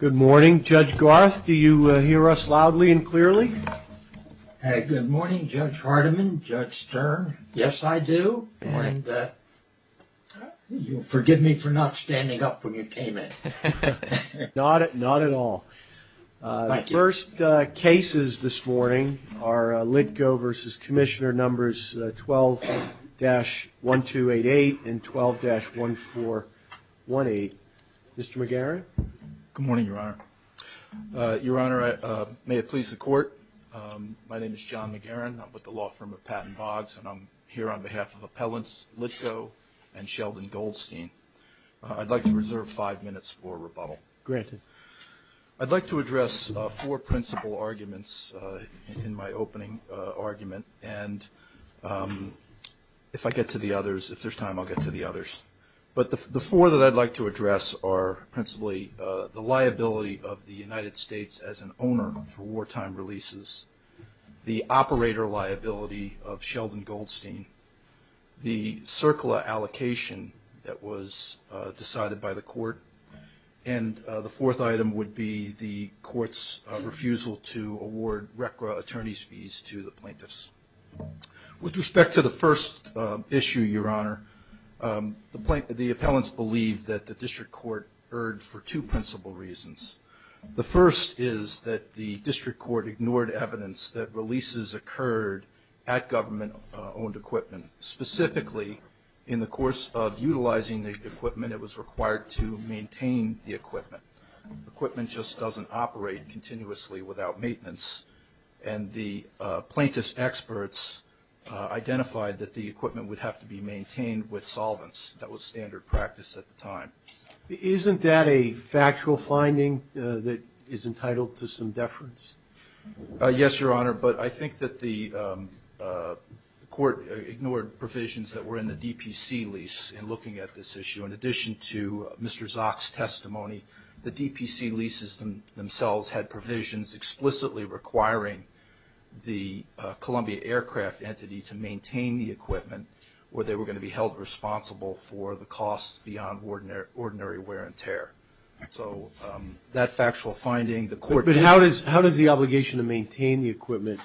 Good morning, Judge Garth. Do you hear us loudly and clearly? Good morning, Judge Hardiman, Judge Stern. Yes, I do. And forgive me for not standing up when you came in. Not at all. The first cases this morning are LITGO v. Commissioner numbers 12-1288 and 12-1418. Mr. McGarren? Good morning, Your Honor. Your Honor, may it please the Court, my name is John McGarren. I'm with the law firm of Patton Boggs, and I'm here on behalf of appellants LITGO and Sheldon Goldstein. I'd like to reserve five minutes for rebuttal. Granted. I'd like to address four principal arguments in my opening argument, and if I get to the others, if there's time, I'll get to the others. But the four that I'd like to address are principally the liability of the United States as an owner for wartime releases, the operator liability of Sheldon Goldstein, the CERCLA allocation that was decided by the Court, and the fourth item would be the Court's refusal to award RECRA attorney's fees to the plaintiffs. With respect to the first issue, Your Honor, the appellants believe that the district court erred for two principal reasons. The first is that the district court ignored evidence that releases occurred at government-owned equipment. Specifically, in the course of utilizing the equipment, it was required to maintain the equipment. Equipment just doesn't operate continuously without maintenance, and the plaintiff's experts identified that the equipment would have to be maintained with solvents. That was standard practice at the time. Isn't that a factual finding that is entitled to some deference? Yes, Your Honor. But I think that the Court ignored provisions that were in the DPC lease in looking at this issue. In addition to Mr. Zock's testimony, the DPC leases themselves had provisions explicitly requiring the Columbia Aircraft Entity to maintain the equipment where they were going to be held responsible for the costs beyond ordinary wear and tear. So that factual finding, the Court – But how does the obligation to maintain the equipment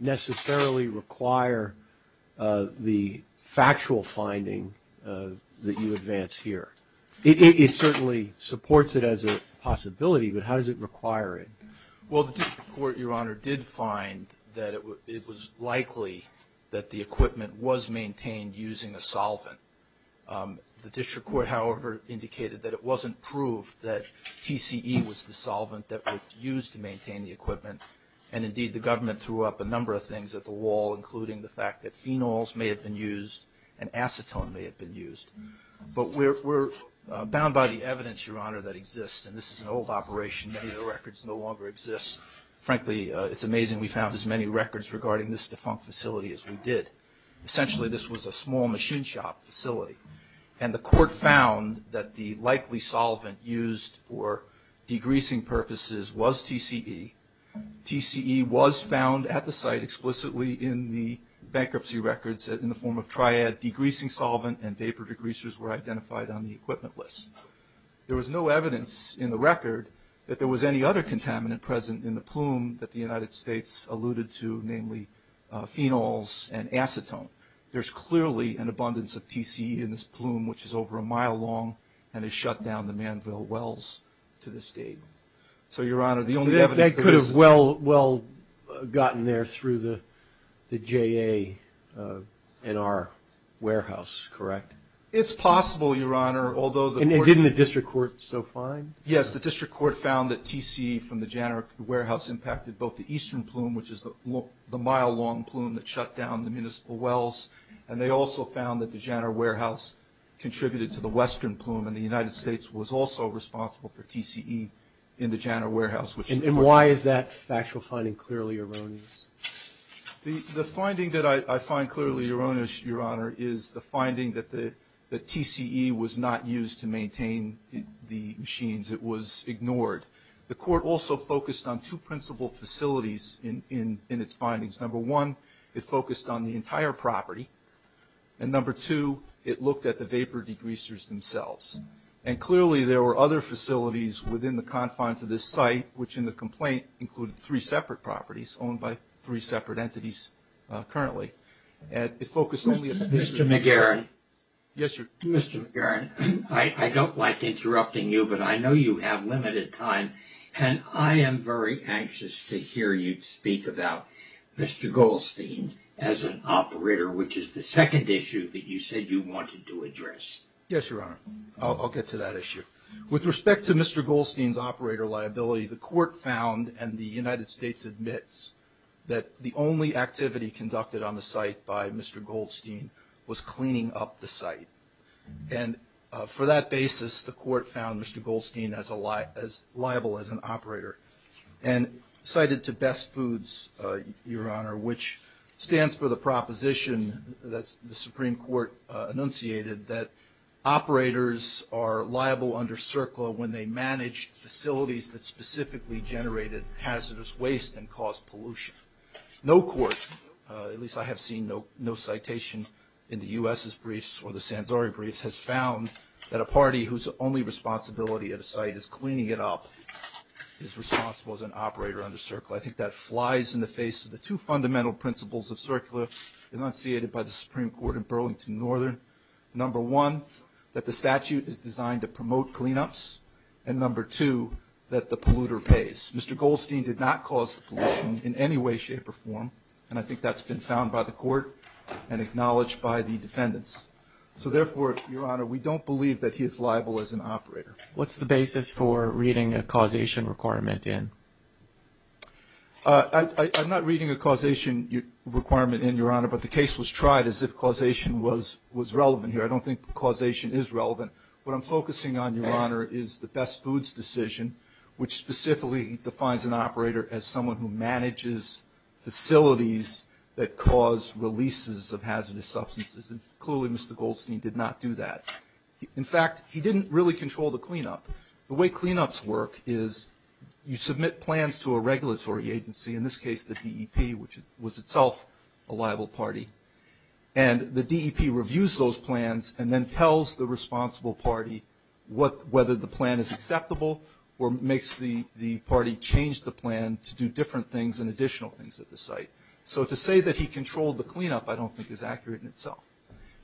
necessarily require the factual finding that you advance here? It certainly supports it as a possibility, but how does it require it? Well, the District Court, Your Honor, did find that it was likely that the equipment was maintained using a solvent. The District Court, however, indicated that it wasn't proved that TCE was the solvent that was used to maintain the equipment, and indeed the government threw up a number of things at the wall, including the fact that phenols may have been used and acetone may have been used. But we're bound by the evidence, Your Honor, that exists, and this is an old operation. Many of the records no longer exist. Frankly, it's amazing we found as many records regarding this defunct facility as we did. Essentially, this was a small machine shop facility, and the Court found that the likely solvent used for degreasing purposes was TCE. TCE was found at the site explicitly in the bankruptcy records in the form of triad degreasing solvent, and vapor degreasers were identified on the equipment list. There was no evidence in the record that there was any other contaminant present in the plume that the United States alluded to, namely phenols and acetone. There's clearly an abundance of TCE in this plume, which is over a mile long and has shut down the Manville Wells to this date. So, Your Honor, the only evidence that is – That could have well gotten there through the JA NR warehouse, correct? It's possible, Your Honor, although the – And didn't the district court so find? Yes, the district court found that TCE from the JA NR warehouse impacted both the eastern plume, which is the mile-long plume that shut down the municipal wells, and they also found that the JA NR warehouse contributed to the western plume, and the United States was also responsible for TCE in the JA NR warehouse, which – And why is that factual finding clearly erroneous? The finding that I find clearly erroneous, Your Honor, is the finding that the TCE was not used to maintain the machines. It was ignored. The court also focused on two principal facilities in its findings. Number one, it focused on the entire property, and number two, it looked at the vapor degreasers themselves. And clearly there were other facilities within the confines of this site, which in the complaint included three separate properties owned by three separate entities currently. And it focused only on – Mr. McGarren. Yes, Your Honor. Mr. McGarren, I don't like interrupting you, but I know you have limited time, and I am very anxious to hear you speak about Mr. Goldstein as an operator, which is the second issue that you said you wanted to address. Yes, Your Honor. I'll get to that issue. With respect to Mr. Goldstein's operator liability, the court found and the United States admits that the only activity conducted on the site by Mr. Goldstein was cleaning up the site. And for that basis, the court found Mr. Goldstein as liable as an operator and cited to Best Foods, Your Honor, which stands for the proposition that the Supreme Court enunciated that operators are liable under CERCLA when they manage facilities that specifically generated hazardous waste and caused pollution. No court, at least I have seen no citation in the U.S.'s briefs or the Sanzari briefs, has found that a party whose only responsibility at a site is cleaning it up is responsible as an operator under CERCLA. I think that flies in the face of the two fundamental principles of CERCLA enunciated by the Supreme Court in Burlington, Northern. Number one, that the statute is designed to promote cleanups, and number two, that the polluter pays. Mr. Goldstein did not cause pollution in any way, shape, or form, and I think that's been found by the court and acknowledged by the defendants. So therefore, Your Honor, we don't believe that he is liable as an operator. What's the basis for reading a causation requirement in? I'm not reading a causation requirement in, Your Honor, but the case was tried as if causation was relevant here. I don't think causation is relevant. What I'm focusing on, Your Honor, is the best foods decision, which specifically defines an operator as someone who manages facilities that cause releases of hazardous substances, and clearly Mr. Goldstein did not do that. In fact, he didn't really control the cleanup. The way cleanups work is you submit plans to a regulatory agency, in this case the DEP, which was itself a liable party, and the DEP reviews those plans and then tells the responsible party whether the plan is acceptable or makes the party change the plan to do different things and additional things at the site. So to say that he controlled the cleanup I don't think is accurate in itself.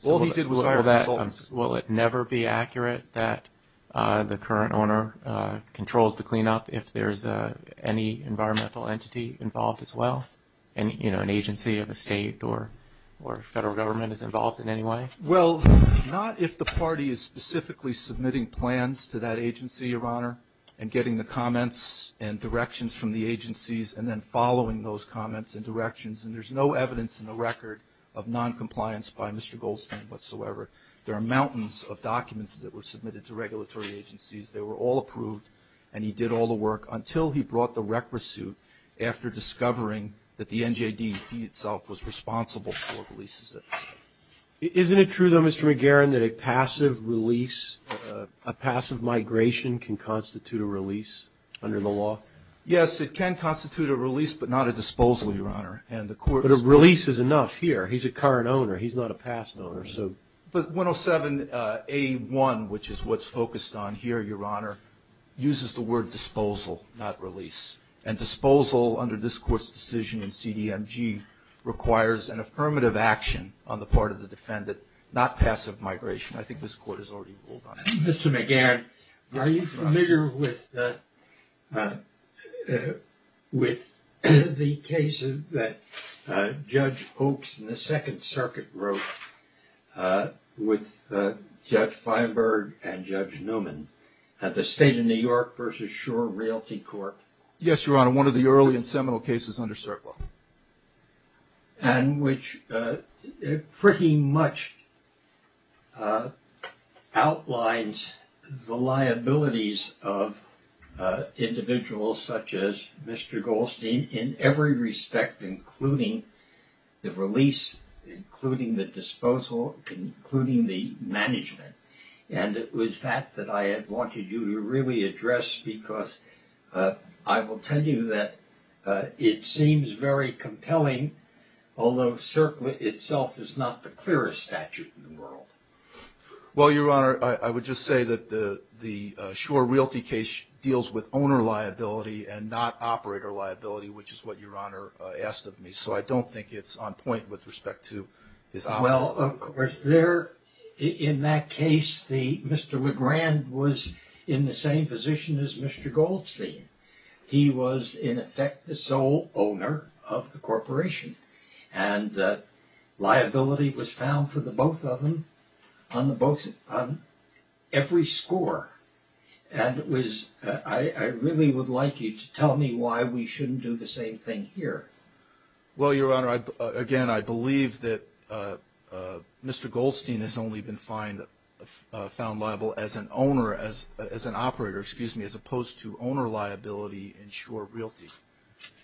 All he did was hire consultants. Will it never be accurate that the current owner controls the cleanup if there's any environmental entity involved as well, an agency of a state or federal government is involved in any way? Well, not if the party is specifically submitting plans to that agency, Your Honor, and getting the comments and directions from the agencies and then following those comments and directions, and there's no evidence in the record of noncompliance by Mr. Goldstein whatsoever. There are mountains of documents that were submitted to regulatory agencies. They were all approved, and he did all the work until he brought the rec pursuit after discovering that the NJD itself was responsible for releases at the site. Isn't it true, though, Mr. McGarren, that a passive release, a passive migration can constitute a release under the law? Yes, it can constitute a release but not a disposal, Your Honor, but a release is enough here. He's a current owner. He's not a past owner. But 107A1, which is what's focused on here, Your Honor, uses the word disposal, not release, and disposal under this Court's decision in CDMG requires an affirmative action on the part of the defendant, not passive migration. I think this Court has already ruled on that. Mr. McGarren, are you familiar with the cases that Judge Oaks in the Second Circuit wrote with Judge Feinberg and Judge Newman at the State of New York versus Shore Realty Court? Yes, Your Honor, one of the early and seminal cases under CERCLA, and which pretty much outlines the liabilities of individuals such as Mr. Goldstein in every respect, including the release, including the disposal, including the management. And it was that that I had wanted you to really address because I will tell you that it seems very compelling, although CERCLA itself is not the clearest statute in the world. Well, Your Honor, I would just say that the Shore Realty case deals with owner liability and not operator liability, which is what Your Honor asked of me. So I don't think it's on point with respect to this. Well, of course, in that case, Mr. McGarren was in the same position as Mr. Goldstein. He was, in effect, the sole owner of the corporation, and liability was found for the both of them on every score. And I really would like you to tell me why we shouldn't do the same thing here. Well, Your Honor, again, I believe that Mr. Goldstein has only been found liable as an owner, as an operator, excuse me, as opposed to owner liability in Shore Realty.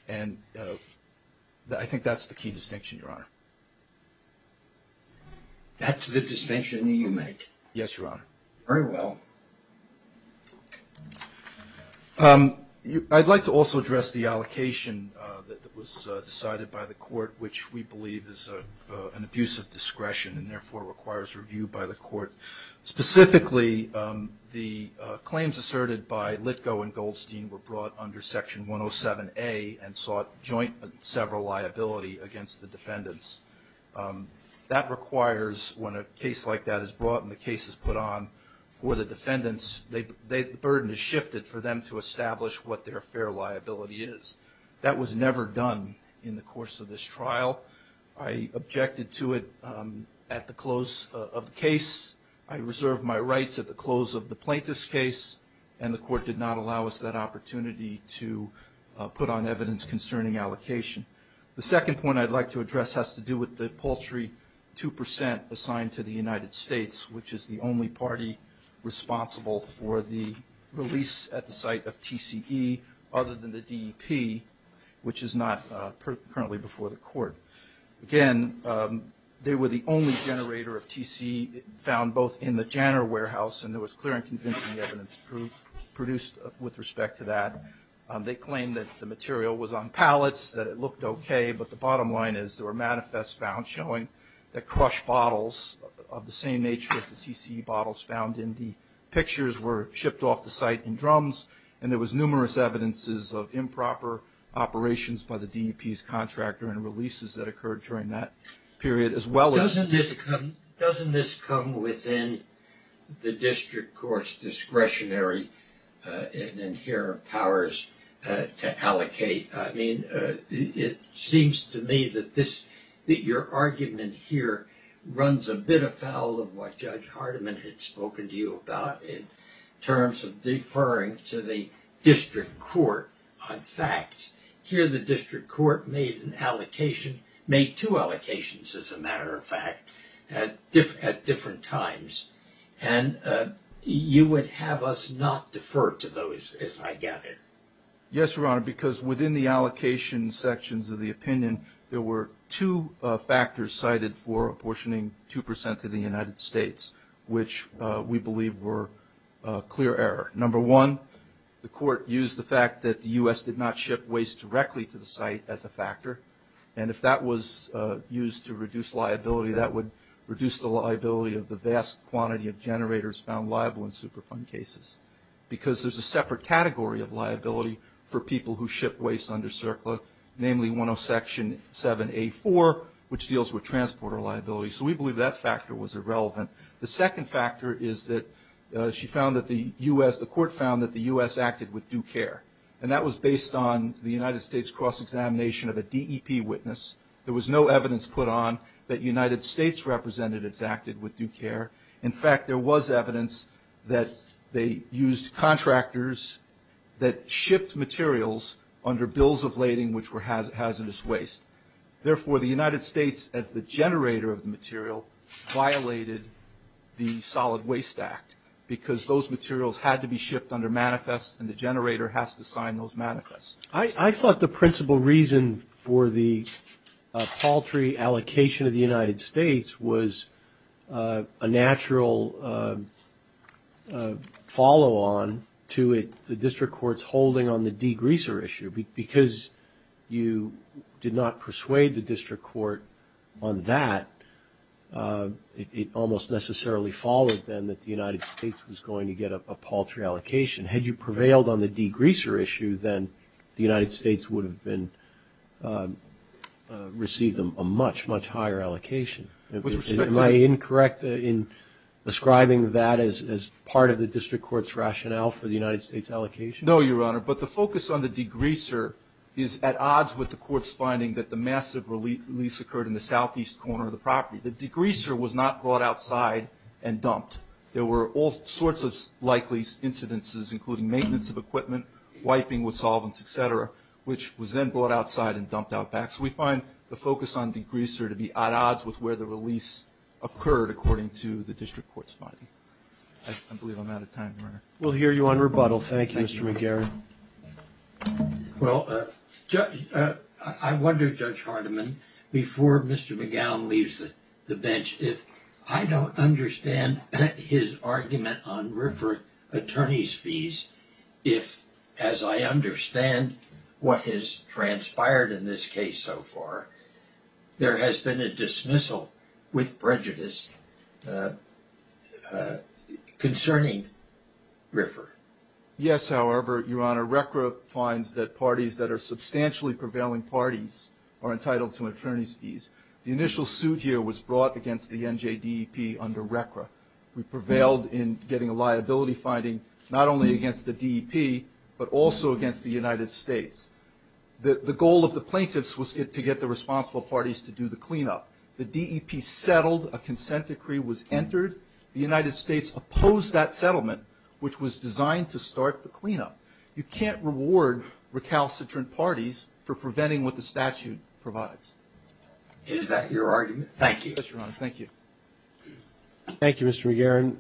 And I think that's the key distinction, Your Honor. That's the distinction that you make? Yes, Your Honor. Very well. I'd like to also address the allocation that was decided by the court, which we believe is an abuse of discretion and therefore requires review by the court. Specifically, the claims asserted by Litko and Goldstein were brought under Section 107A and sought joint and several liability against the defendants. That requires, when a case like that is brought and the case is put on for the defendants, the burden is shifted for them to establish what their fair liability is. That was never done in the course of this trial. I objected to it at the close of the case. I reserved my rights at the close of the plaintiff's case, and the court did not allow us that opportunity to put on evidence concerning allocation. The second point I'd like to address has to do with the paltry 2% assigned to the United States, which is the only party responsible for the release at the site of TCE other than the DEP, which is not currently before the court. Again, they were the only generator of TCE found both in the Janner warehouse, and there was clear and convincing evidence produced with respect to that. They claimed that the material was on pallets, that it looked okay, but the bottom line is there were manifests found showing that crushed bottles of the same nature as the TCE bottles found in the pictures were shipped off the site in drums, and there was numerous evidences of improper operations by the DEP's contractor and releases that occurred during that period, as well as- Doesn't this come within the district court's discretionary and inherent powers to allocate? I mean, it seems to me that your argument here runs a bit afoul of what Judge Hardiman had spoken to you about in terms of deferring to the district court on facts. Here, the district court made an allocation, made two allocations, as a matter of fact, at different times, and you would have us not defer to those, as I gather. Yes, Your Honor, because within the allocation sections of the opinion, there were two factors cited for apportioning 2% to the United States, which we believe were clear error. Number one, the court used the fact that the U.S. did not ship waste directly to the site as a factor, and if that was used to reduce liability, that would reduce the liability of the vast quantity of generators found liable in Superfund cases because there's a separate category of liability for people who ship waste under CERCLA, namely 107A4, which deals with transporter liability. So we believe that factor was irrelevant. The second factor is that she found that the U.S. The court found that the U.S. acted with due care, and that was based on the United States cross-examination of a DEP witness. There was no evidence put on that United States representatives acted with due care. In fact, there was evidence that they used contractors that shipped materials under bills of lading, which were hazardous waste. Therefore, the United States, as the generator of the material, violated the Solid Waste Act because those materials had to be shipped under manifest, and the generator has to sign those manifests. I thought the principal reason for the paltry allocation of the United States was a natural follow-on to the district court's holding on the degreaser issue. Because you did not persuade the district court on that, it almost necessarily followed then that the United States was going to get a paltry allocation. Had you prevailed on the degreaser issue, then the United States would have received a much, much higher allocation. Am I incorrect in ascribing that as part of the district court's rationale for the United States allocation? No, Your Honor, but the focus on the degreaser is at odds with the court's finding that the massive release occurred in the southeast corner of the property. The degreaser was not brought outside and dumped. There were all sorts of likely incidences, including maintenance of equipment, wiping with solvents, et cetera, which was then brought outside and dumped out back. So we find the focus on degreaser to be at odds with where the release occurred, according to the district court's finding. I believe I'm out of time, Your Honor. We'll hear you on rebuttal. Thank you, Mr. McGarrett. Well, I wonder, Judge Hardiman, before Mr. McGowan leaves the bench, if I don't understand his argument on RFRA attorney's fees, if, as I understand what has transpired in this case so far, there has been a dismissal with prejudice concerning RFRA. Yes, however, Your Honor, RCRA finds that parties that are substantially prevailing parties are entitled to attorney's fees. The initial suit here was brought against the NJDEP under RCRA. We prevailed in getting a liability finding not only against the DEP, but also against the United States. The goal of the plaintiffs was to get the responsible parties to do the cleanup. The DEP settled. A consent decree was entered. The United States opposed that settlement, which was designed to start the cleanup. You can't reward recalcitrant parties for preventing what the statute provides. Is that your argument? Thank you. Yes, Your Honor. Thank you. Thank you, Mr. McGarrett.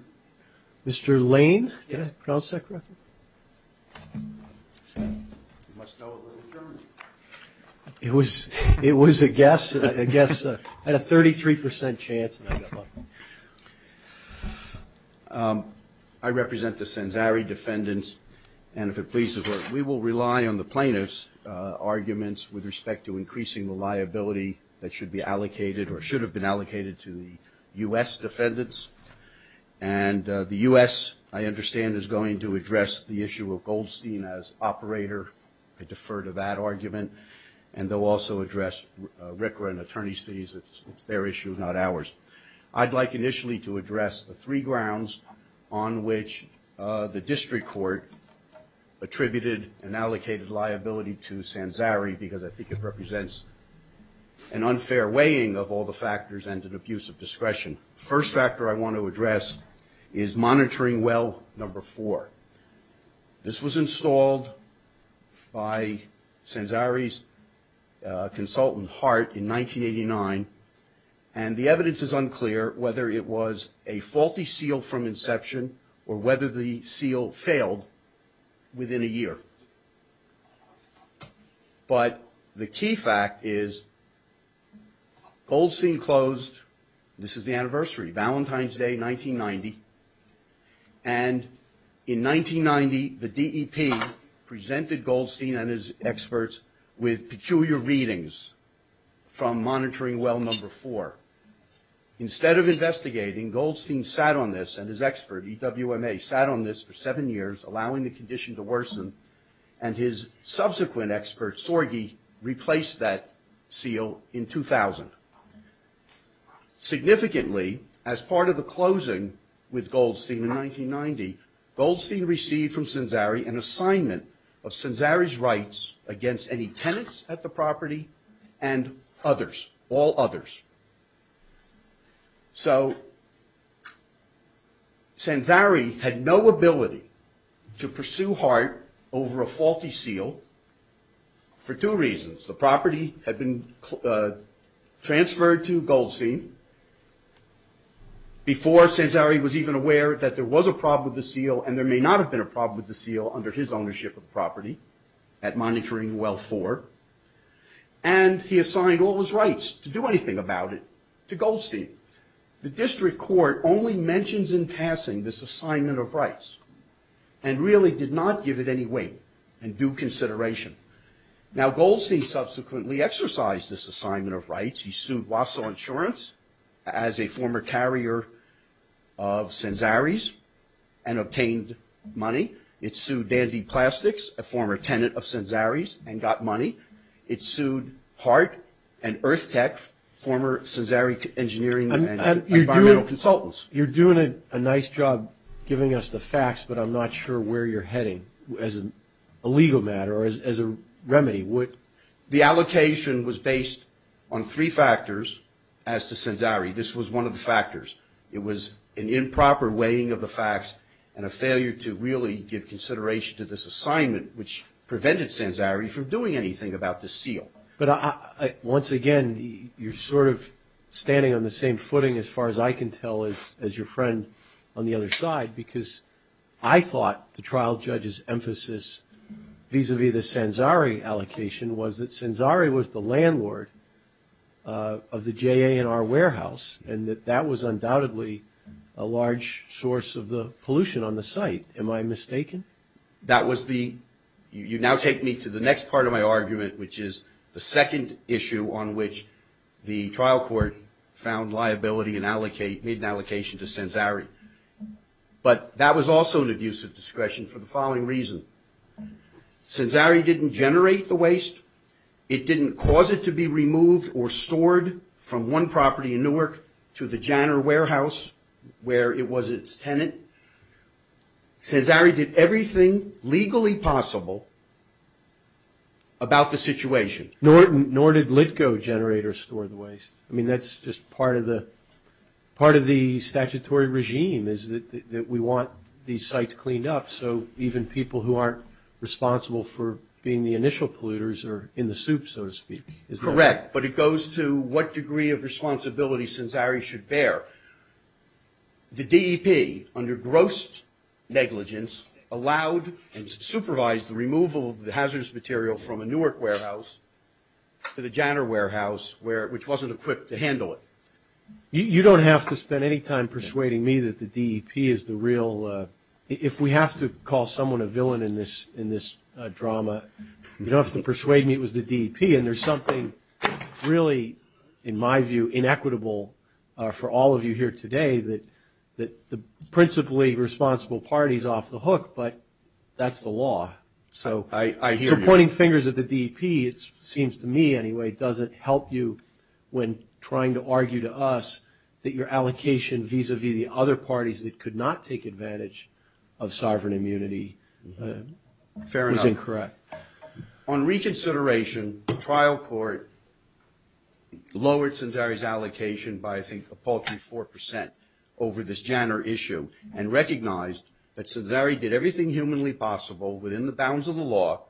Mr. Lane, did I pronounce that correctly? You must know a little German. It was a guess. A guess. I had a 33 percent chance. I represent the Senzari defendants, and if it pleases Her, we will rely on the plaintiffs' arguments with respect to increasing the liability that should be allocated or should have been allocated to the U.S. defendants. And the U.S., I understand, is going to address the issue of Goldstein as operator. I defer to that argument. And they'll also address RCRA and attorney's fees. It's their issue, not ours. I'd like initially to address the three grounds on which the district court attributed and allocated liability to Senzari because I think it represents an unfair weighing of all the factors and an abuse of discretion. The first factor I want to address is monitoring well number four. This was installed by Senzari's consultant, Hart, in 1989, and the evidence is unclear whether it was a faulty seal from inception or whether the seal failed within a year. But the key fact is Goldstein closed, this is the anniversary, Valentine's Day, 1990, and in 1990, the DEP presented Goldstein and his experts with peculiar readings from monitoring well number four. Instead of investigating, Goldstein sat on this and his expert, EWMA, sat on this for seven years, allowing the condition to worsen, and his subsequent expert, Sorge, replaced that seal in 2000. Significantly, as part of the closing with Goldstein in 1990, Goldstein received from Senzari an assignment of Senzari's rights against any tenants at the property and others, all others. So Senzari had no ability to pursue Hart over a faulty seal for two reasons. The property had been transferred to Goldstein. Before, Senzari was even aware that there was a problem with the seal and there may not have been a problem with the seal under his ownership of the property at monitoring well four, and he assigned all his rights to do anything about it to Goldstein. The district court only mentions in passing this assignment of rights and really did not give it any weight and due consideration. Now, Goldstein subsequently exercised this assignment of rights. He sued Waso Insurance as a former carrier of Senzari's and obtained money. It sued Dandy Plastics, a former tenant of Senzari's, and got money. It sued Hart and Earth Tech, former Senzari engineering and environmental consultants. You're doing a nice job giving us the facts, but I'm not sure where you're heading as a legal matter or as a remedy. The allocation was based on three factors as to Senzari. This was one of the factors. It was an improper weighing of the facts and a failure to really give consideration to this assignment, which prevented Senzari from doing anything about the seal. But once again, you're sort of standing on the same footing as far as I can tell as your friend on the other side because I thought the trial judge's emphasis vis-à-vis the Senzari allocation was that Senzari was the landlord of the JANR warehouse and that that was undoubtedly a large source of the pollution on the site. Am I mistaken? You now take me to the next part of my argument, which is the second issue on which the trial court found liability and made an allocation to Senzari. But that was also an abuse of discretion for the following reason. Senzari didn't generate the waste. It didn't cause it to be removed or stored from one property in Newark to the JANR warehouse where it was its tenant. Senzari did everything legally possible about the situation. Nor did Litco Generator store the waste. I mean, that's just part of the statutory regime is that we want these sites cleaned up, so even people who aren't responsible for being the initial polluters are in the soup, so to speak. Correct, but it goes to what degree of responsibility Senzari should bear. The DEP, under gross negligence, allowed and supervised the removal of the hazardous material from a Newark warehouse to the JANR warehouse, which wasn't equipped to handle it. You don't have to spend any time persuading me that the DEP is the real – if we have to call someone a villain in this drama, you don't have to persuade me it was the DEP. And there's something really, in my view, inequitable for all of you here today, that the principally responsible party is off the hook, but that's the law. I hear you. So pointing fingers at the DEP, it seems to me anyway, doesn't help you when trying to argue to us that your allocation vis-a-vis the other parties that could not take advantage of sovereign immunity was incorrect. Fair enough. On reconsideration, the trial court lowered Senzari's allocation by, I think, a paltry 4 percent over this JANR issue and recognized that Senzari did everything humanly possible within the bounds of the law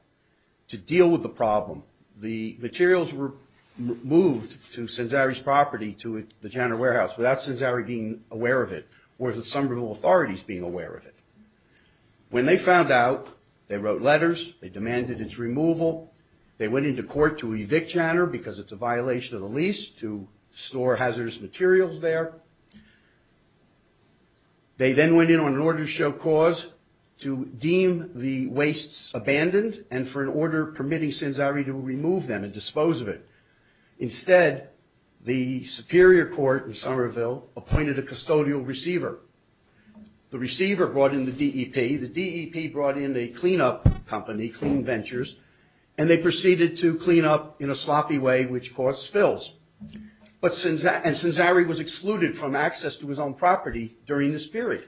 to deal with the problem. The materials were moved to Senzari's property, to the JANR warehouse, without Senzari being aware of it or the Somerville authorities being aware of it. When they found out, they wrote letters, they demanded its removal, they went into court to evict JANR because it's a violation of the lease, to store hazardous materials there. They then went in on an order to show cause to deem the wastes abandoned and for an order permitting Senzari to remove them and dispose of it. Instead, the superior court in Somerville appointed a custodial receiver. The receiver brought in the DEP. The DEP brought in a cleanup company, Clean Ventures, and they proceeded to clean up in a sloppy way, which caused spills. And Senzari was excluded from access to his own property during this period.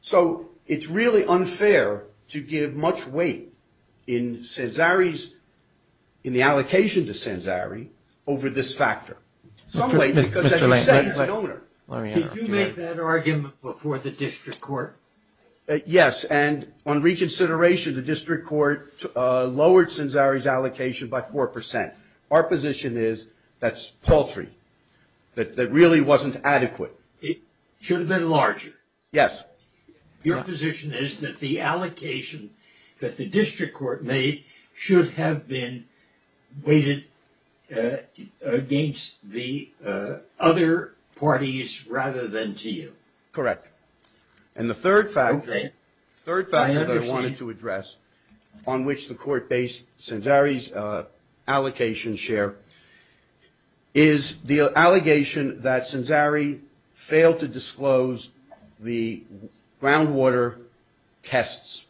So it's really unfair to give much weight in Senzari's, in the allocation to Senzari, over this factor. In some way, because as you say, you're the owner. Did you make that argument before the district court? Yes, and on reconsideration, the district court lowered Senzari's allocation by 4%. Our position is that's paltry, that really wasn't adequate. It should have been larger. Yes. Your position is that the allocation that the district court made should have been weighted against the other parties rather than to you. Correct. And the third factor that I wanted to address, on which the court based Senzari's allocation share, is the allegation that Senzari failed to disclose the groundwater tests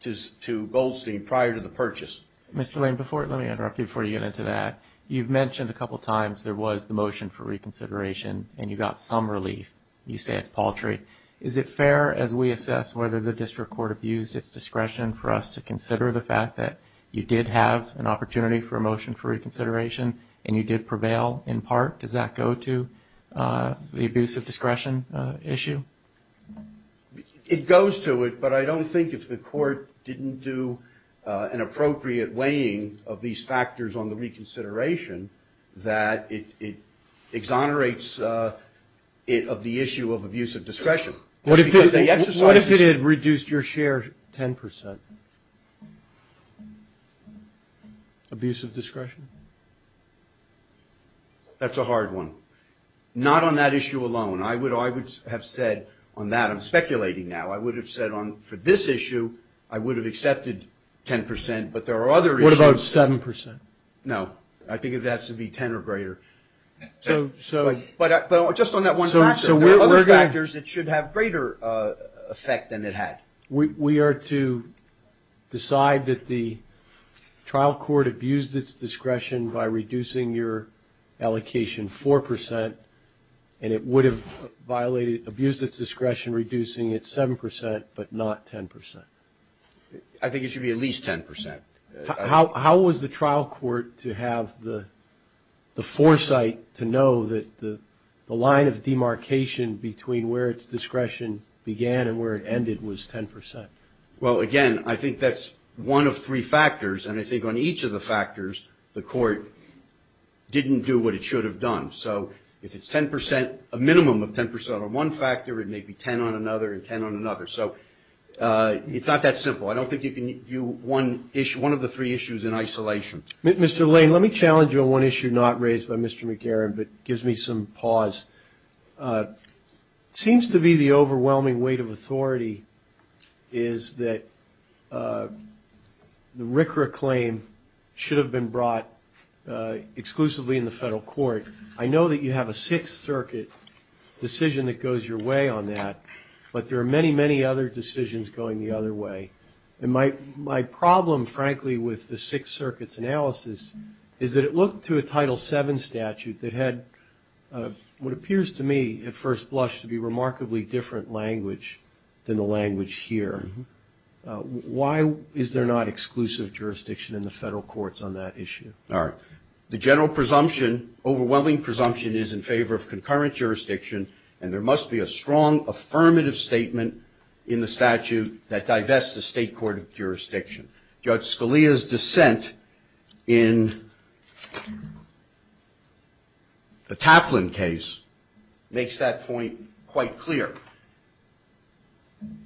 to Goldstein prior to the purchase. Mr. Lane, let me interrupt you before you get into that. You've mentioned a couple times there was the motion for reconsideration, and you got some relief. You say it's paltry. Is it fair, as we assess whether the district court abused its discretion for us to consider the fact that you did have an opportunity for a motion for reconsideration and you did prevail in part? Does that go to the abuse of discretion issue? It goes to it, but I don't think if the court didn't do an appropriate weighing of these factors on the reconsideration that it exonerates it of the issue of abuse of discretion. What if it had reduced your share 10 percent? Abuse of discretion? That's a hard one. Not on that issue alone. I would have said on that. I'm speculating now. I would have said for this issue I would have accepted 10 percent, but there are other issues. What about 7 percent? No. I think it has to be 10 or greater. But just on that one factor. There are other factors that should have greater effect than it had. We are to decide that the trial court abused its discretion by reducing your allocation 4 percent, and it would have abused its discretion reducing it 7 percent but not 10 percent. I think it should be at least 10 percent. How was the trial court to have the foresight to know that the line of demarcation between where its discretion began and where it ended was 10 percent? Well, again, I think that's one of three factors, and I think on each of the factors the court didn't do what it should have done. So if it's 10 percent, a minimum of 10 percent on one factor, it may be 10 on another and 10 on another. So it's not that simple. I don't think you can view one of the three issues in isolation. Mr. Lane, let me challenge you on one issue not raised by Mr. McGarren but gives me some pause. It seems to be the overwhelming weight of authority is that the RCRA claim should have been brought exclusively in the federal court. I know that you have a Sixth Circuit decision that goes your way on that, but there are many, many other decisions going the other way. And my problem, frankly, with the Sixth Circuit's analysis is that it looked to a Title VII statute that had what appears to me at first blush to be remarkably different language than the language here. Why is there not exclusive jurisdiction in the federal courts on that issue? The general presumption, overwhelming presumption, is in favor of concurrent jurisdiction, and there must be a strong affirmative statement in the statute that divests the state court of jurisdiction. Judge Scalia's dissent in the Taplin case makes that point quite clear.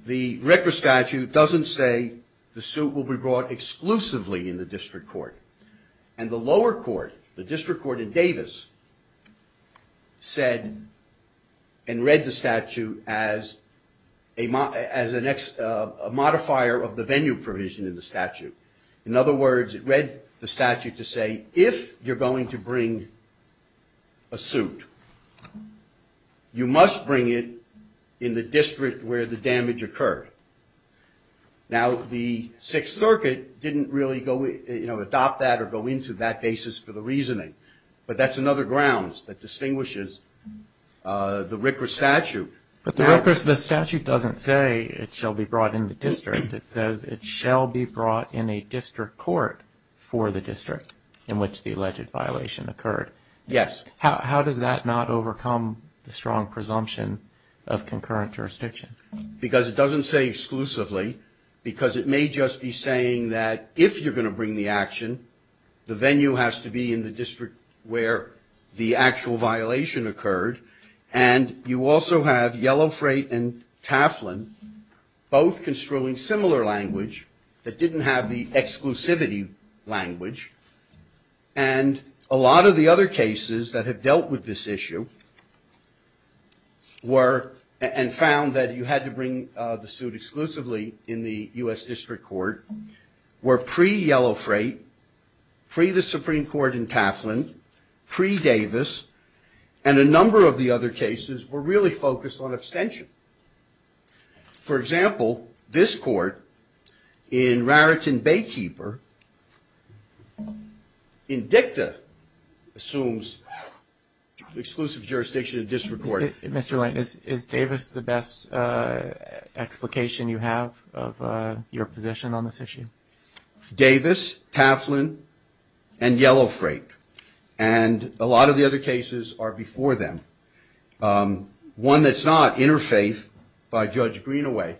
The RCRA statute doesn't say the suit will be brought exclusively in the district court. And the lower court, the district court in Davis, said and read the statute as a modifier of the venue provision in the statute. In other words, it read the statute to say if you're going to bring a suit, you must bring it in the district where the damage occurred. Now, the Sixth Circuit didn't really go, you know, adopt that or go into that basis for the reasoning, but that's another grounds that distinguishes the RCRA statute. But the RCRA statute doesn't say it shall be brought in the district. It says it shall be brought in a district court for the district in which the alleged violation occurred. Yes. How does that not overcome the strong presumption of concurrent jurisdiction? Because it doesn't say exclusively, because it may just be saying that if you're going to bring the action, the venue has to be in the district where the actual violation occurred. And you also have Yellow Freight and Taflin both construing similar language that didn't have the exclusivity language. And a lot of the other cases that have dealt with this issue were and found that you had to bring the suit exclusively in the U.S. District Court, were pre-Yellow Freight, pre-the Supreme Court in Taflin, pre-Davis, and a number of the other cases were really focused on abstention. For example, this court in Raritan Baykeeper in DICTA assumes exclusive jurisdiction in district court. Mr. Lane, is Davis the best explication you have of your position on this issue? Davis, Taflin, and Yellow Freight. And a lot of the other cases are before them. One that's not, Interfaith by Judge Greenaway,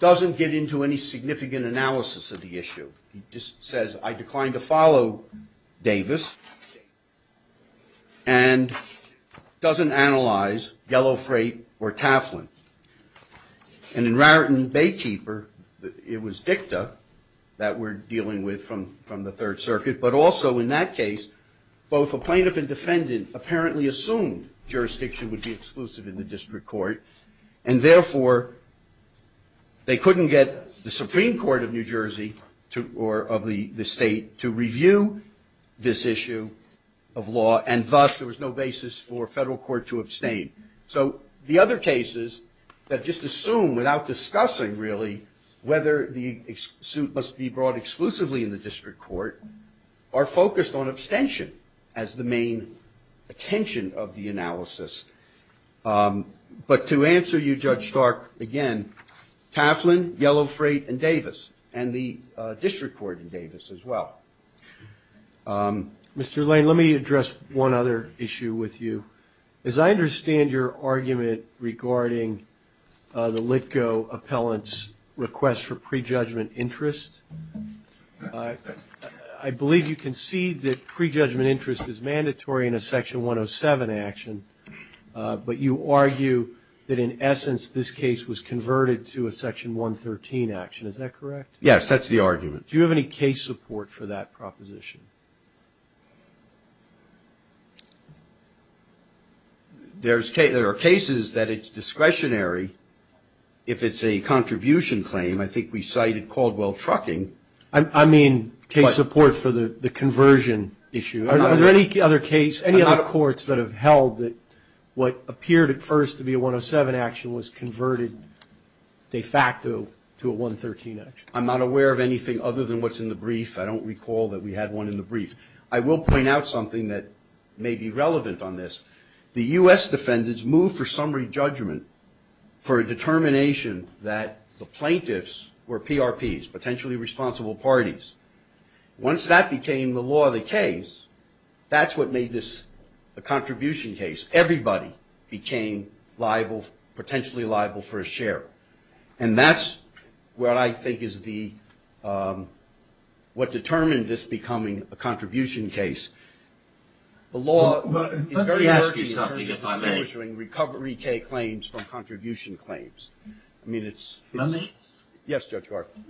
doesn't get into any significant analysis of the issue. He just says, I decline to follow Davis, and doesn't analyze Yellow Freight or Taflin. And in Raritan Baykeeper, it was DICTA that we're dealing with from the Third Circuit, but also in that case, both a plaintiff and defendant apparently assumed jurisdiction would be exclusive in the district court, and therefore, they couldn't get the Supreme Court of New Jersey or of the state to review this issue of law, and thus, there was no basis for federal court to abstain. So the other cases that just assume, without discussing really, whether the suit must be brought exclusively in the district court, are focused on abstention as the main attention of the analysis. But to answer you, Judge Stark, again, Taflin, Yellow Freight, and Davis, and the district court in Davis as well. Mr. Lane, let me address one other issue with you. As I understand your argument regarding the Litko appellant's request for prejudgment interest, I believe you concede that prejudgment interest is mandatory in a Section 107 action, but you argue that, in essence, this case was converted to a Section 113 action. Is that correct? Yes, that's the argument. There are cases that it's discretionary if it's a contribution claim. I think we cited Caldwell Trucking. I mean case support for the conversion issue. Are there any other courts that have held that what appeared at first to be a 107 action was converted de facto to a 113 action? I'm not aware of anything other than what's in the brief. I don't recall that we had one in the brief. I will point out something that may be relevant on this. The U.S. defendants moved for summary judgment for a determination that the plaintiffs were PRPs, potentially responsible parties. Once that became the law of the case, that's what made this a contribution case. Because everybody became potentially liable for a share. And that's what I think is what determined this becoming a contribution case. Let me ask you something, if I may. Recovery claims from contribution claims. Yes, Judge Hardiman.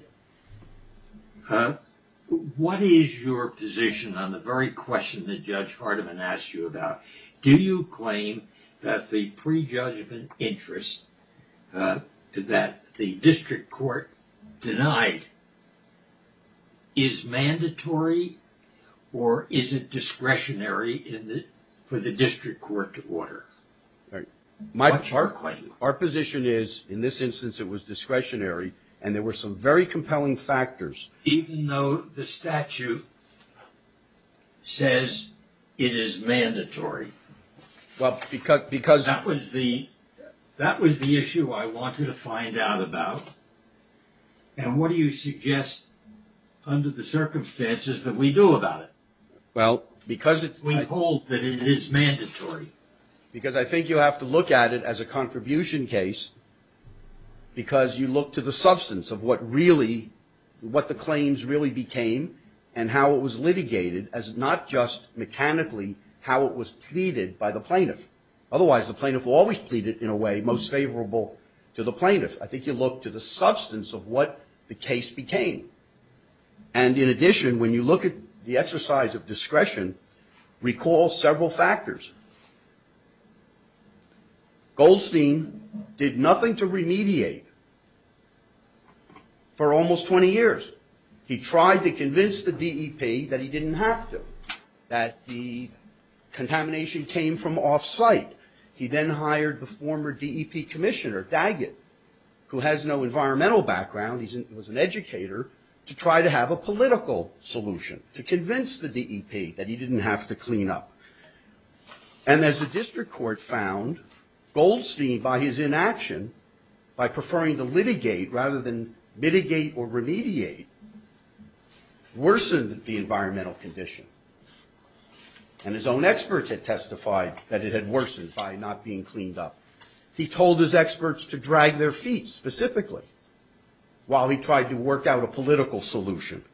What is your position on the very question that Judge Hardiman asked you about? Do you claim that the prejudgment interest that the district court denied is mandatory or is it discretionary for the district court to order? What's your claim? Even though the statute says it is mandatory. That was the issue I wanted to find out about. And what do you suggest under the circumstances that we do about it? I hold that it is mandatory. Because I think you have to look at it as a contribution case because you look to the substance of what the claims really became and how it was litigated as not just mechanically how it was pleaded by the plaintiff. Otherwise, the plaintiff will always plead it in a way most favorable to the plaintiff. I think you look to the substance of what the case became. And in addition, when you look at the exercise of discretion, recall several factors. Goldstein did nothing to remediate for almost 20 years. He tried to convince the DEP that he didn't have to. That the contamination came from off-site. He then hired the former DEP commissioner, Daggett, who has no environmental background. He was an educator, to try to have a political solution to convince the DEP that he didn't have to clean up. And as the district court found, Goldstein, by his inaction, by preferring to litigate rather than mitigate or remediate, worsened the environmental condition. And his own experts had testified that it had worsened by not being cleaned up. He told his experts to drag their feet, specifically, while he tried to work out a political solution.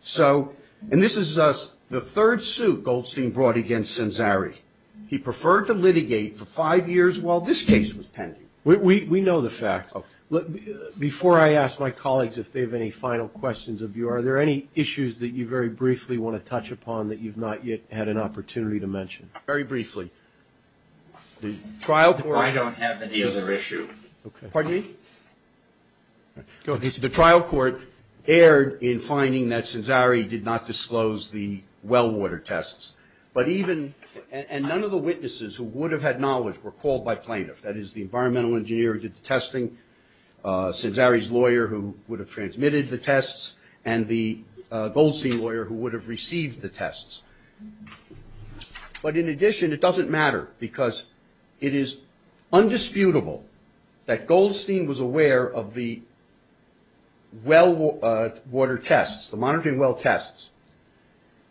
So, and this is the third suit Goldstein brought against Cenzari. He preferred to litigate for five years while this case was pending. We know the fact. Before I ask my colleagues if they have any final questions of you, are there any issues that you very briefly want to touch upon that you've not yet had an opportunity to mention? Very briefly. I don't have any other issue. Pardon me? The trial court erred in finding that Cenzari did not disclose the well water tests. But even, and none of the witnesses who would have had knowledge were called by plaintiffs. That is, the environmental engineer who did the testing, Cenzari's lawyer who would have transmitted the tests, and the Goldstein lawyer who would have received the tests. But in addition, it doesn't matter, because it is undisputable that Goldstein was aware of the well water tests, the monitoring well tests.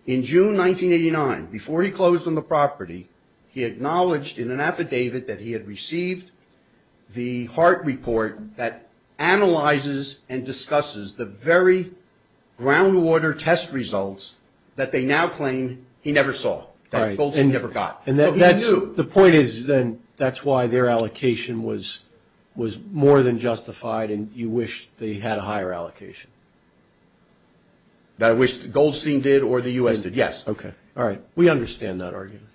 In June 1989, before he closed on the property, he acknowledged in an affidavit that he had received the HART report that analyzes and discusses the very ground water test results that they now claim to be the cause of the well water tests. And he never saw that Goldstein never got. The point is, then, that's why their allocation was more than justified, and you wish they had a higher allocation. That I wish Goldstein did or the U.S. did, yes. Okay. All right. We understand that argument.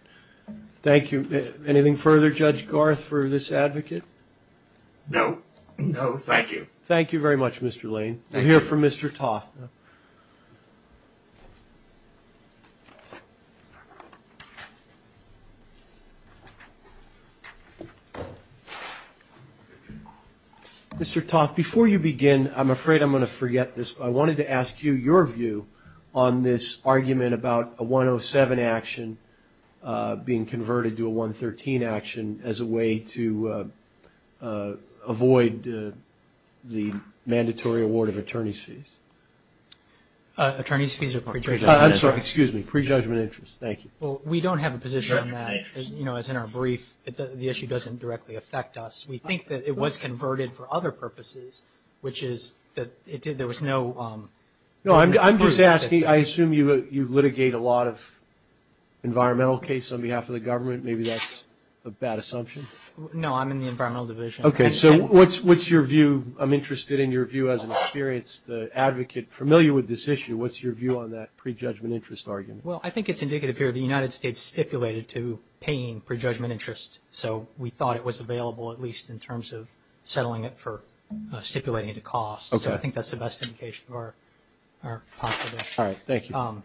Thank you. Anything further, Judge Garth, for this advocate? No. No, thank you. Thank you very much, Mr. Lane. We're here for Mr. Toth. Mr. Toth, before you begin, I'm afraid I'm going to forget this, but I wanted to ask you your view on this argument about a 107 action being converted to a 113 action as a way to avoid, as a way to avoid, you know, the mandatory award of attorney's fees? Attorney's fees are prejudgment interest. I'm sorry. Excuse me. Prejudgment interest. Thank you. Well, we don't have a position on that, you know, as in our brief. The issue doesn't directly affect us. We think that it was converted for other purposes, which is that there was no... No, I'm just asking. I assume you litigate a lot of environmental case on behalf of the government. Maybe that's a bad assumption. No, I'm in the environmental division. Okay. So what's your view? I'm interested in your view as an experienced advocate familiar with this issue. What's your view on that prejudgment interest argument? Well, I think it's indicative here the United States stipulated to paying prejudgment interest. So we thought it was available, at least in terms of settling it for stipulating to cost. So I think that's the best indication of our possibility. All right. Thank you.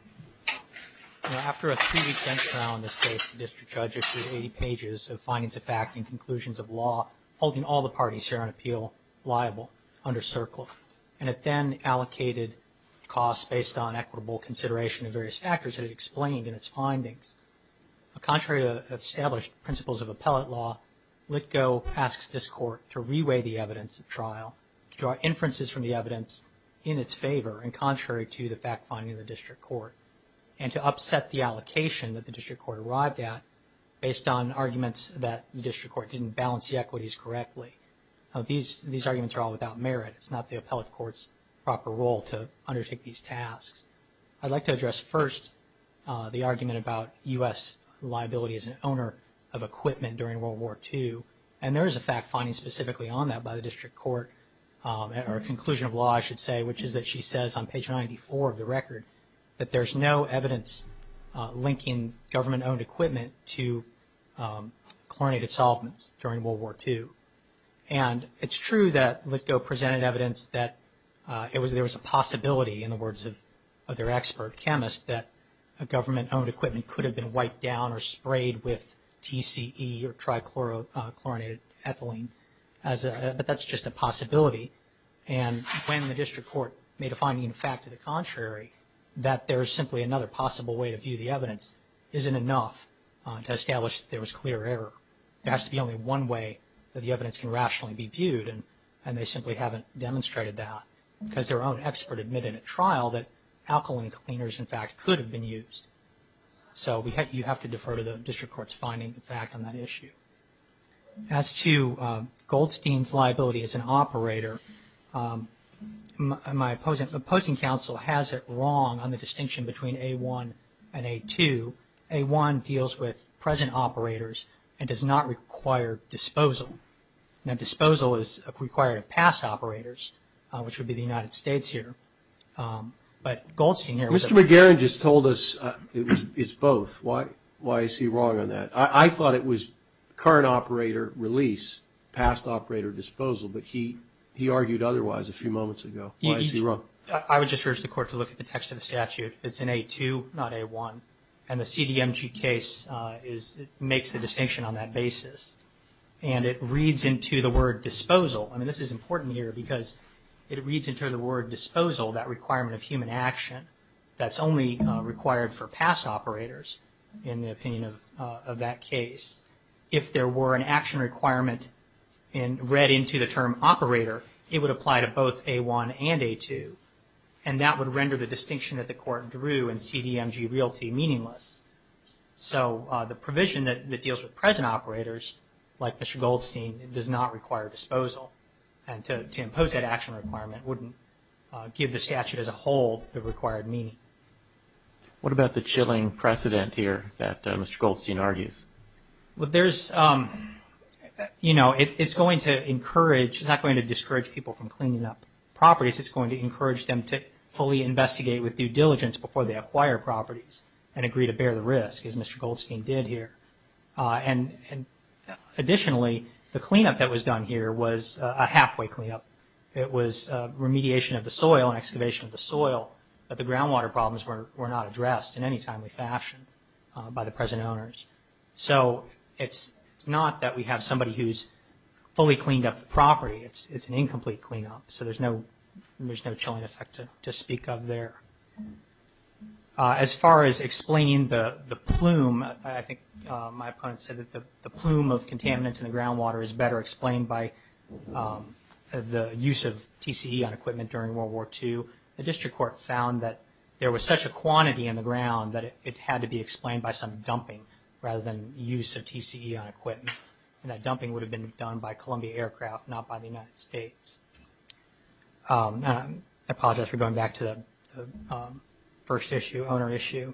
After a three-week bench trial in this case, the district judge issued 80 pages of findings of fact and conclusions of law, holding all the parties here on appeal liable under CERCLA. And it then allocated costs based on equitable consideration of various factors that it explained in its findings. Contrary to the established principles of appellate law, Litigo asks this court to reweigh the evidence of trial, to draw inferences from the evidence in its favor, and contrary to the fact finding of the district court, and to upset the allocation that the district court arrived at based on arguments that the district court didn't balance the equities correctly. These arguments are all without merit. It's not the appellate court's proper role to undertake these tasks. I'd like to address first the argument about U.S. liability as an owner of equipment during World War II. And there is a fact finding specifically on that by the district court, or conclusion of law, I should say, which is that she says on page 94 of the record that there's no evidence linking government-owned equipment to chlorinated solvents during World War II. And it's true that Litigo presented evidence that there was a possibility, in the words of their expert chemist, that a government-owned equipment could have been wiped down or sprayed with TCE or trichlorinated ethylene, but that's just a possibility. And when the district court made a finding in fact to the contrary, that there is simply another possible way to view the evidence isn't enough to establish that there was clear error. There has to be only one way that the evidence can rationally be viewed, and they simply haven't demonstrated that because their own expert admitted at trial that alkaline cleaners, in fact, could have been used. So you have to defer to the district court's finding, in fact, on that issue. As to Goldstein's liability as an operator, my opposing counsel has it wrong on the distinction between A1 and A2. A1 deals with present operators and does not require disposal. Now, disposal is required of past operators, which would be the United States here. But Goldstein here was a... Mr. McGarren just told us it's both. Why is he wrong on that? I thought it was current operator release, past operator disposal, but he argued otherwise a few moments ago. Why is he wrong? I would just urge the court to look at the text of the statute. It's in A2, not A1, and the CDMG case makes the distinction on that basis. And it reads into the word disposal. I mean, this is important here because it reads into the word disposal, that requirement of human action, that's only required for past operators in the opinion of that case. If there were an action requirement read into the term operator, it would apply to both A1 and A2, and that would render the distinction that the court drew in CDMG realty meaningless. So the provision that deals with present operators, like Mr. Goldstein, does not require disposal. And to impose that action requirement wouldn't give the statute as a whole the required meaning. What about the chilling precedent here that Mr. Goldstein argues? Well, there's, you know, it's going to encourage, it's not going to discourage people from cleaning up properties. It's going to encourage them to fully investigate with due diligence before they acquire properties and agree to bear the risk, as Mr. Goldstein did here. And additionally, the cleanup that was done here was a halfway cleanup. It was remediation of the soil and excavation of the soil, but the groundwater problems were not addressed in any timely fashion by the present owners. So it's not that we have somebody who's fully cleaned up the property. It's an incomplete cleanup, so there's no chilling effect to speak of there. As far as explaining the plume, I think my opponent said that the plume of contaminants in the groundwater is better explained by the use of TCE on equipment during World War II. The district court found that there was such a quantity in the ground that it had to be explained by some dumping rather than use of TCE on equipment. And that dumping would have been done by Columbia Aircraft, not by the United States. I apologize for going back to the first issue, owner issue.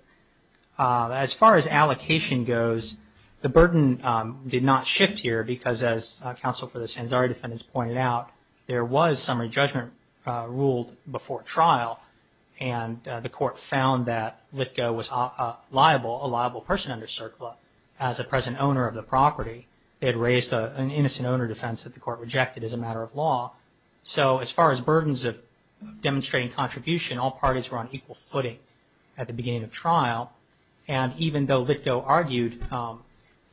As far as allocation goes, the burden did not shift here because, as counsel for the Sanzari defendants pointed out, there was summary judgment ruled before trial, and the court found that Litko was a liable person under CERCLA as a present owner of the property. It raised an innocent owner defense that the court rejected as a matter of law. So as far as burdens of demonstrating contribution, all parties were on equal footing at the beginning of trial. And even though Litko argued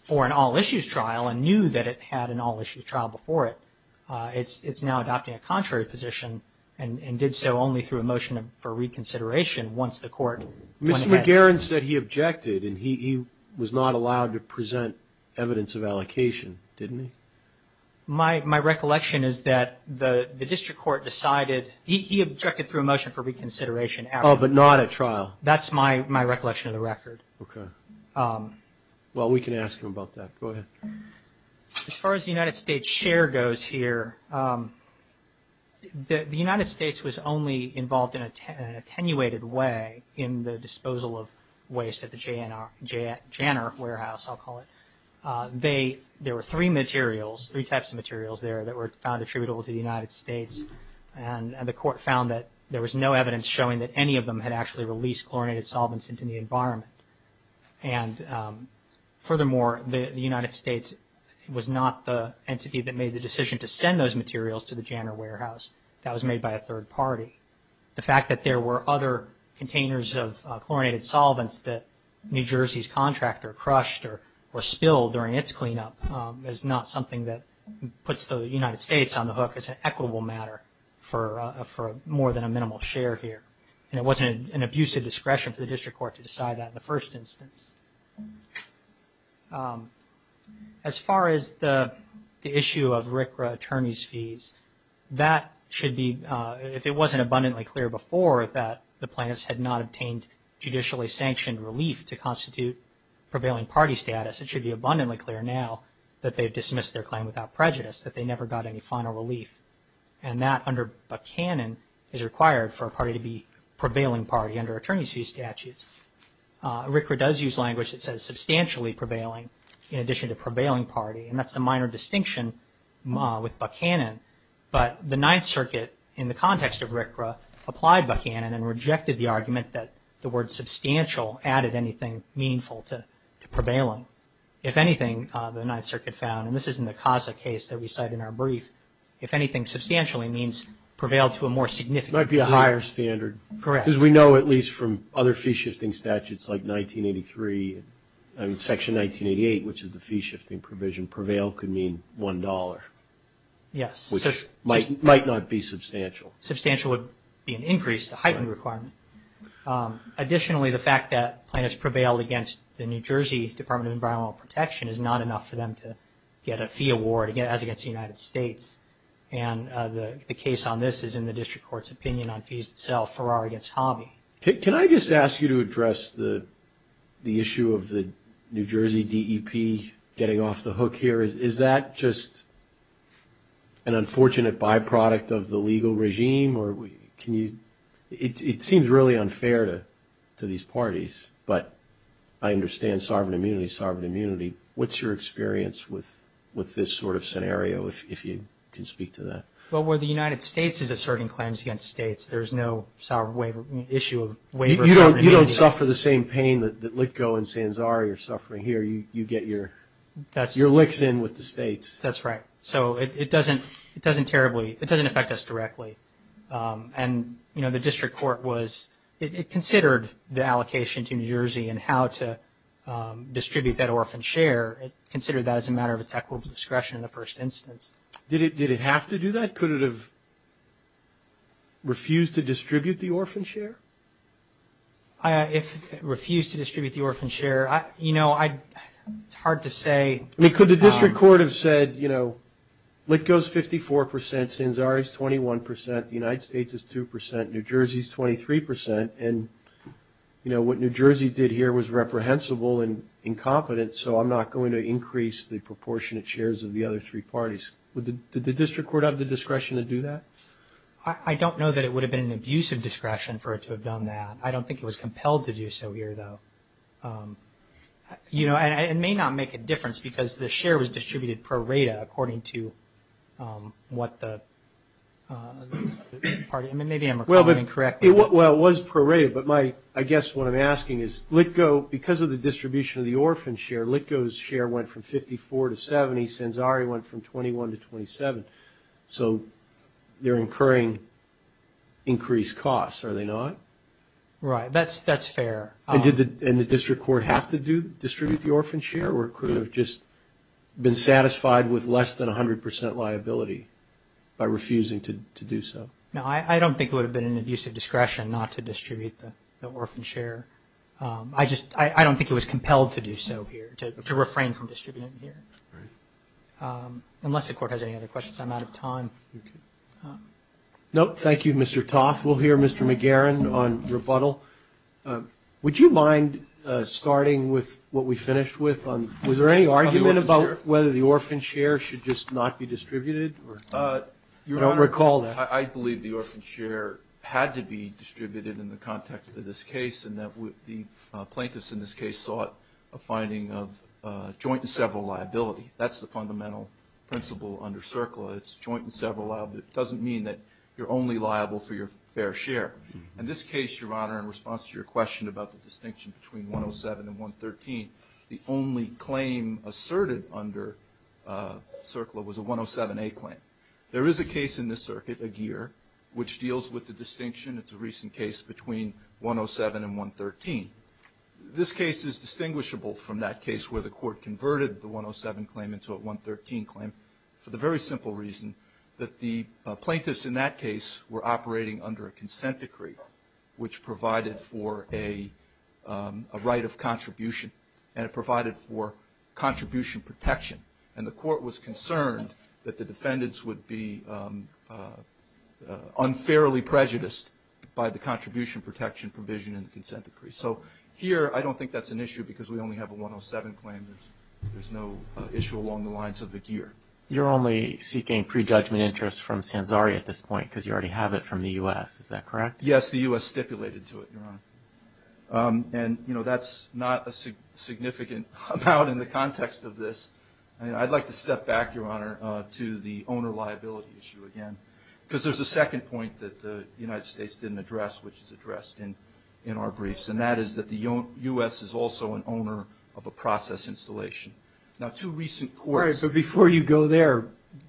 for an all-issues trial and knew that it had an all-issues trial before it, it's now adopting a contrary position and did so only through a motion for reconsideration once the court went ahead. Mr. McGarren said he objected and he was not allowed to present evidence of allocation, didn't he? My recollection is that the district court decided he objected through a motion for reconsideration. Oh, but not at trial? That's my recollection of the record. Okay. Well, we can ask him about that. Go ahead. As far as the United States share goes here, the United States was only involved in an attenuated way in the disposal of waste at the Janner Warehouse, I'll call it. There were three materials, three types of materials there that were found attributable to the United States, and the court found that there was no evidence showing that any of them had actually released chlorinated solvents into the environment. And furthermore, the United States was not the entity that made the decision to send those materials to the Janner Warehouse. That was made by a third party. The fact that there were other containers of chlorinated solvents that New Jersey's contractor crushed or spilled during its cleanup is not something that puts the United States on the hook as an equitable matter for more than a minimal share here. And it wasn't an abuse of discretion for the district court to decide that in the first instance. As far as the issue of RCRA attorney's fees, that should be, if it wasn't abundantly clear before that the plaintiffs had not obtained judicially sanctioned relief to constitute prevailing party status, it should be abundantly clear now that they've dismissed their claim without prejudice, that they never got any final relief. And that under Buchanan is required for a party to be prevailing party under attorney's fee statute. RCRA does use language that says substantially prevailing in addition to prevailing party, and that's a minor distinction with Buchanan. But the Ninth Circuit, in the context of RCRA, applied Buchanan and rejected the argument that the word substantial added anything meaningful to prevailing. If anything, the Ninth Circuit found, and this is in the CASA case that we cite in our brief, if anything substantially means prevailed to a more significant degree. Might be a higher standard. Correct. Because we know at least from other fee shifting statutes like 1983, Section 1988, which is the fee shifting provision, prevail could mean $1. Yes. Which might not be substantial. Substantial would be an increase, a heightened requirement. Additionally, the fact that plaintiffs prevailed against the New Jersey Department of Environmental Protection is not enough for them to get a fee award, as against the United States. And the case on this is in the district court's opinion on fees that sell Ferrari against Hobby. Can I just ask you to address the issue of the New Jersey DEP getting off the hook here? Is that just an unfortunate byproduct of the legal regime? It seems really unfair to these parties, but I understand sovereign immunity, sovereign immunity. What's your experience with this sort of scenario, if you can speak to that? Well, where the United States is asserting claims against states, there's no issue of waiver. You don't suffer the same pain that Litko and Sanzari are suffering here. You get your licks in with the states. That's right. So it doesn't terribly, it doesn't affect us directly. And, you know, the district court was, it considered the allocation to New Jersey and how to distribute that orphan share. It considered that as a matter of its equitable discretion in the first instance. Did it have to do that? Could it have refused to distribute the orphan share? If it refused to distribute the orphan share, you know, it's hard to say. I mean, could the district court have said, you know, Litko is 54 percent, Sanzari is 21 percent, the United States is 2 percent, New Jersey is 23 percent, and, you know, what New Jersey did here was reprehensible and incompetent, so I'm not going to increase the proportionate shares of the other three parties. Did the district court have the discretion to do that? I don't know that it would have been an abusive discretion for it to have done that. I don't think it was compelled to do so here, though. You know, and it may not make a difference because the share was distributed pro rata according to what the party, I mean, maybe I'm recalling incorrectly. Well, it was pro rata, but I guess what I'm asking is Litko, because of the distribution of the orphan share, Litko's share went from 54 to 70, Sanzari went from 21 to 27, so they're incurring increased costs, are they not? Right, that's fair. And did the district court have to distribute the orphan share or could it have just been satisfied with less than 100 percent liability by refusing to do so? No, I don't think it would have been an abusive discretion not to distribute the orphan share. I just, I don't think it was compelled to do so here, to refrain from distributing here. Right. Unless the court has any other questions, I'm out of time. No, thank you, Mr. Toth. We'll hear Mr. McGarren on rebuttal. Would you mind starting with what we finished with on, was there any argument about whether the orphan share should just not be distributed? I don't recall that. Your Honor, I believe the orphan share had to be distributed in the context of this case and that the plaintiffs in this case sought a finding of joint and several liability. That's the fundamental principle under CERCLA. It's joint and several liability. It doesn't mean that you're only liable for your fair share. In this case, Your Honor, in response to your question about the distinction between 107 and 113, the only claim asserted under CERCLA was a 107A claim. There is a case in this circuit, Aguirre, which deals with the distinction. It's a recent case between 107 and 113. This case is distinguishable from that case where the court converted the 107 claim into a 113 claim for the very simple reason that the plaintiffs in that case were operating under a consent decree which provided for a right of contribution and it provided for contribution protection. And the court was concerned that the defendants would be unfairly prejudiced by the contribution protection provision in the consent decree. So here I don't think that's an issue because we only have a 107 claim. There's no issue along the lines of Aguirre. You're only seeking prejudgment interest from Sansari at this point because you already have it from the U.S. Is that correct? Yes, the U.S. stipulated to it, Your Honor. And, you know, that's not a significant amount in the context of this. I'd like to step back, Your Honor, to the owner liability issue again because there's a second point that the United States didn't address which is addressed in our briefs, and that is that the U.S. is also an owner of a process installation. Now, two recent courts. All right, but before you go there,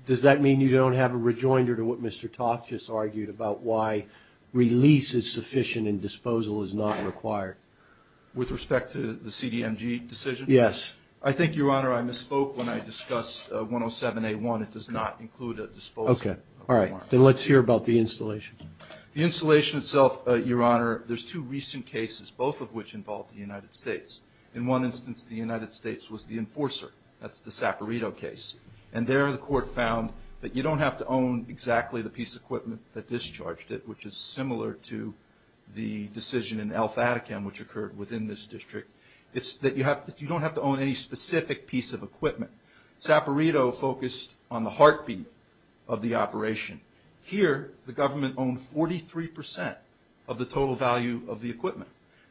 does that mean you don't have a rejoinder to what Mr. Toth just argued about why release is sufficient and disposal is not required? With respect to the CDMG decision? Yes. I think, Your Honor, I misspoke when I discussed 107A1. It does not include a disposal. Okay. All right. Then let's hear about the installation. The installation itself, Your Honor, there's two recent cases, both of which involve the United States. In one instance, the United States was the enforcer. That's the Saperito case. And there the court found that you don't have to own exactly the piece of equipment that discharged it, which is similar to the decision in El Fatahkam which occurred within this district. It's that you don't have to own any specific piece of equipment. Saperito focused on the heartbeat of the operation. Here the government owned 43% of the total value of the equipment.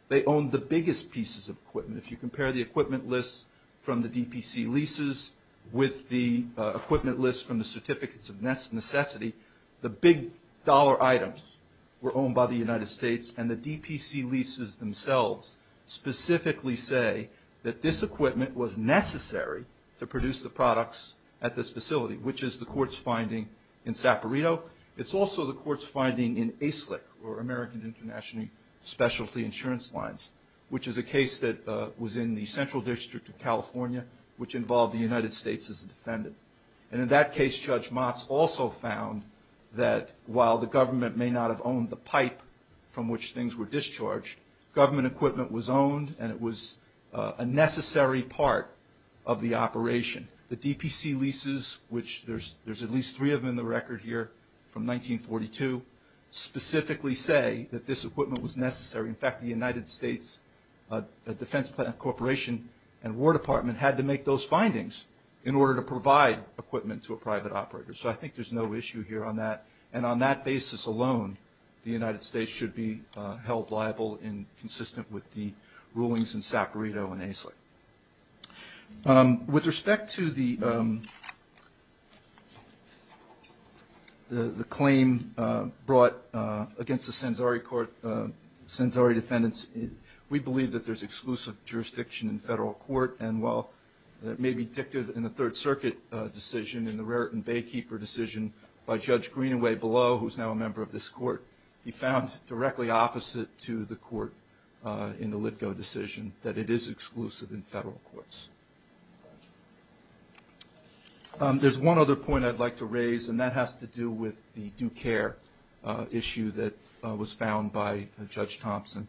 They owned the biggest pieces of equipment. If you compare the equipment list from the DPC leases with the equipment list from the Certificates of Necessity, the big dollar items were owned by the United States, and the DPC leases themselves specifically say that this equipment was necessary to produce the products at this facility, which is the court's finding in Saperito. It's also the court's finding in ASIC, or American International Specialty Insurance Lines, which is a case that was in the Central District of California, which involved the United States as a defendant. And in that case, Judge Motz also found that while the government may not have owned the pipe from which things were discharged, government equipment was owned and it was a necessary part of the operation. The DPC leases, which there's at least three of them in the record here from 1942, specifically say that this equipment was necessary. In fact, the United States Defense Corporation and War Department had to make those findings in order to provide equipment to a private operator. So I think there's no issue here on that. And on that basis alone, the United States should be held liable and consistent with the rulings in Saperito and ASIC. With respect to the claim brought against the Sanzari court, Sanzari defendants, we believe that there's exclusive jurisdiction in federal court. And while it may be dictated in the Third Circuit decision, in the Raritan Baykeeper decision, by Judge Greenaway below, who's now a member of this court, he found directly opposite to the court in the Litgo decision that it is exclusive in federal courts. There's one other point I'd like to raise, and that has to do with the due care issue that was found by Judge Thompson.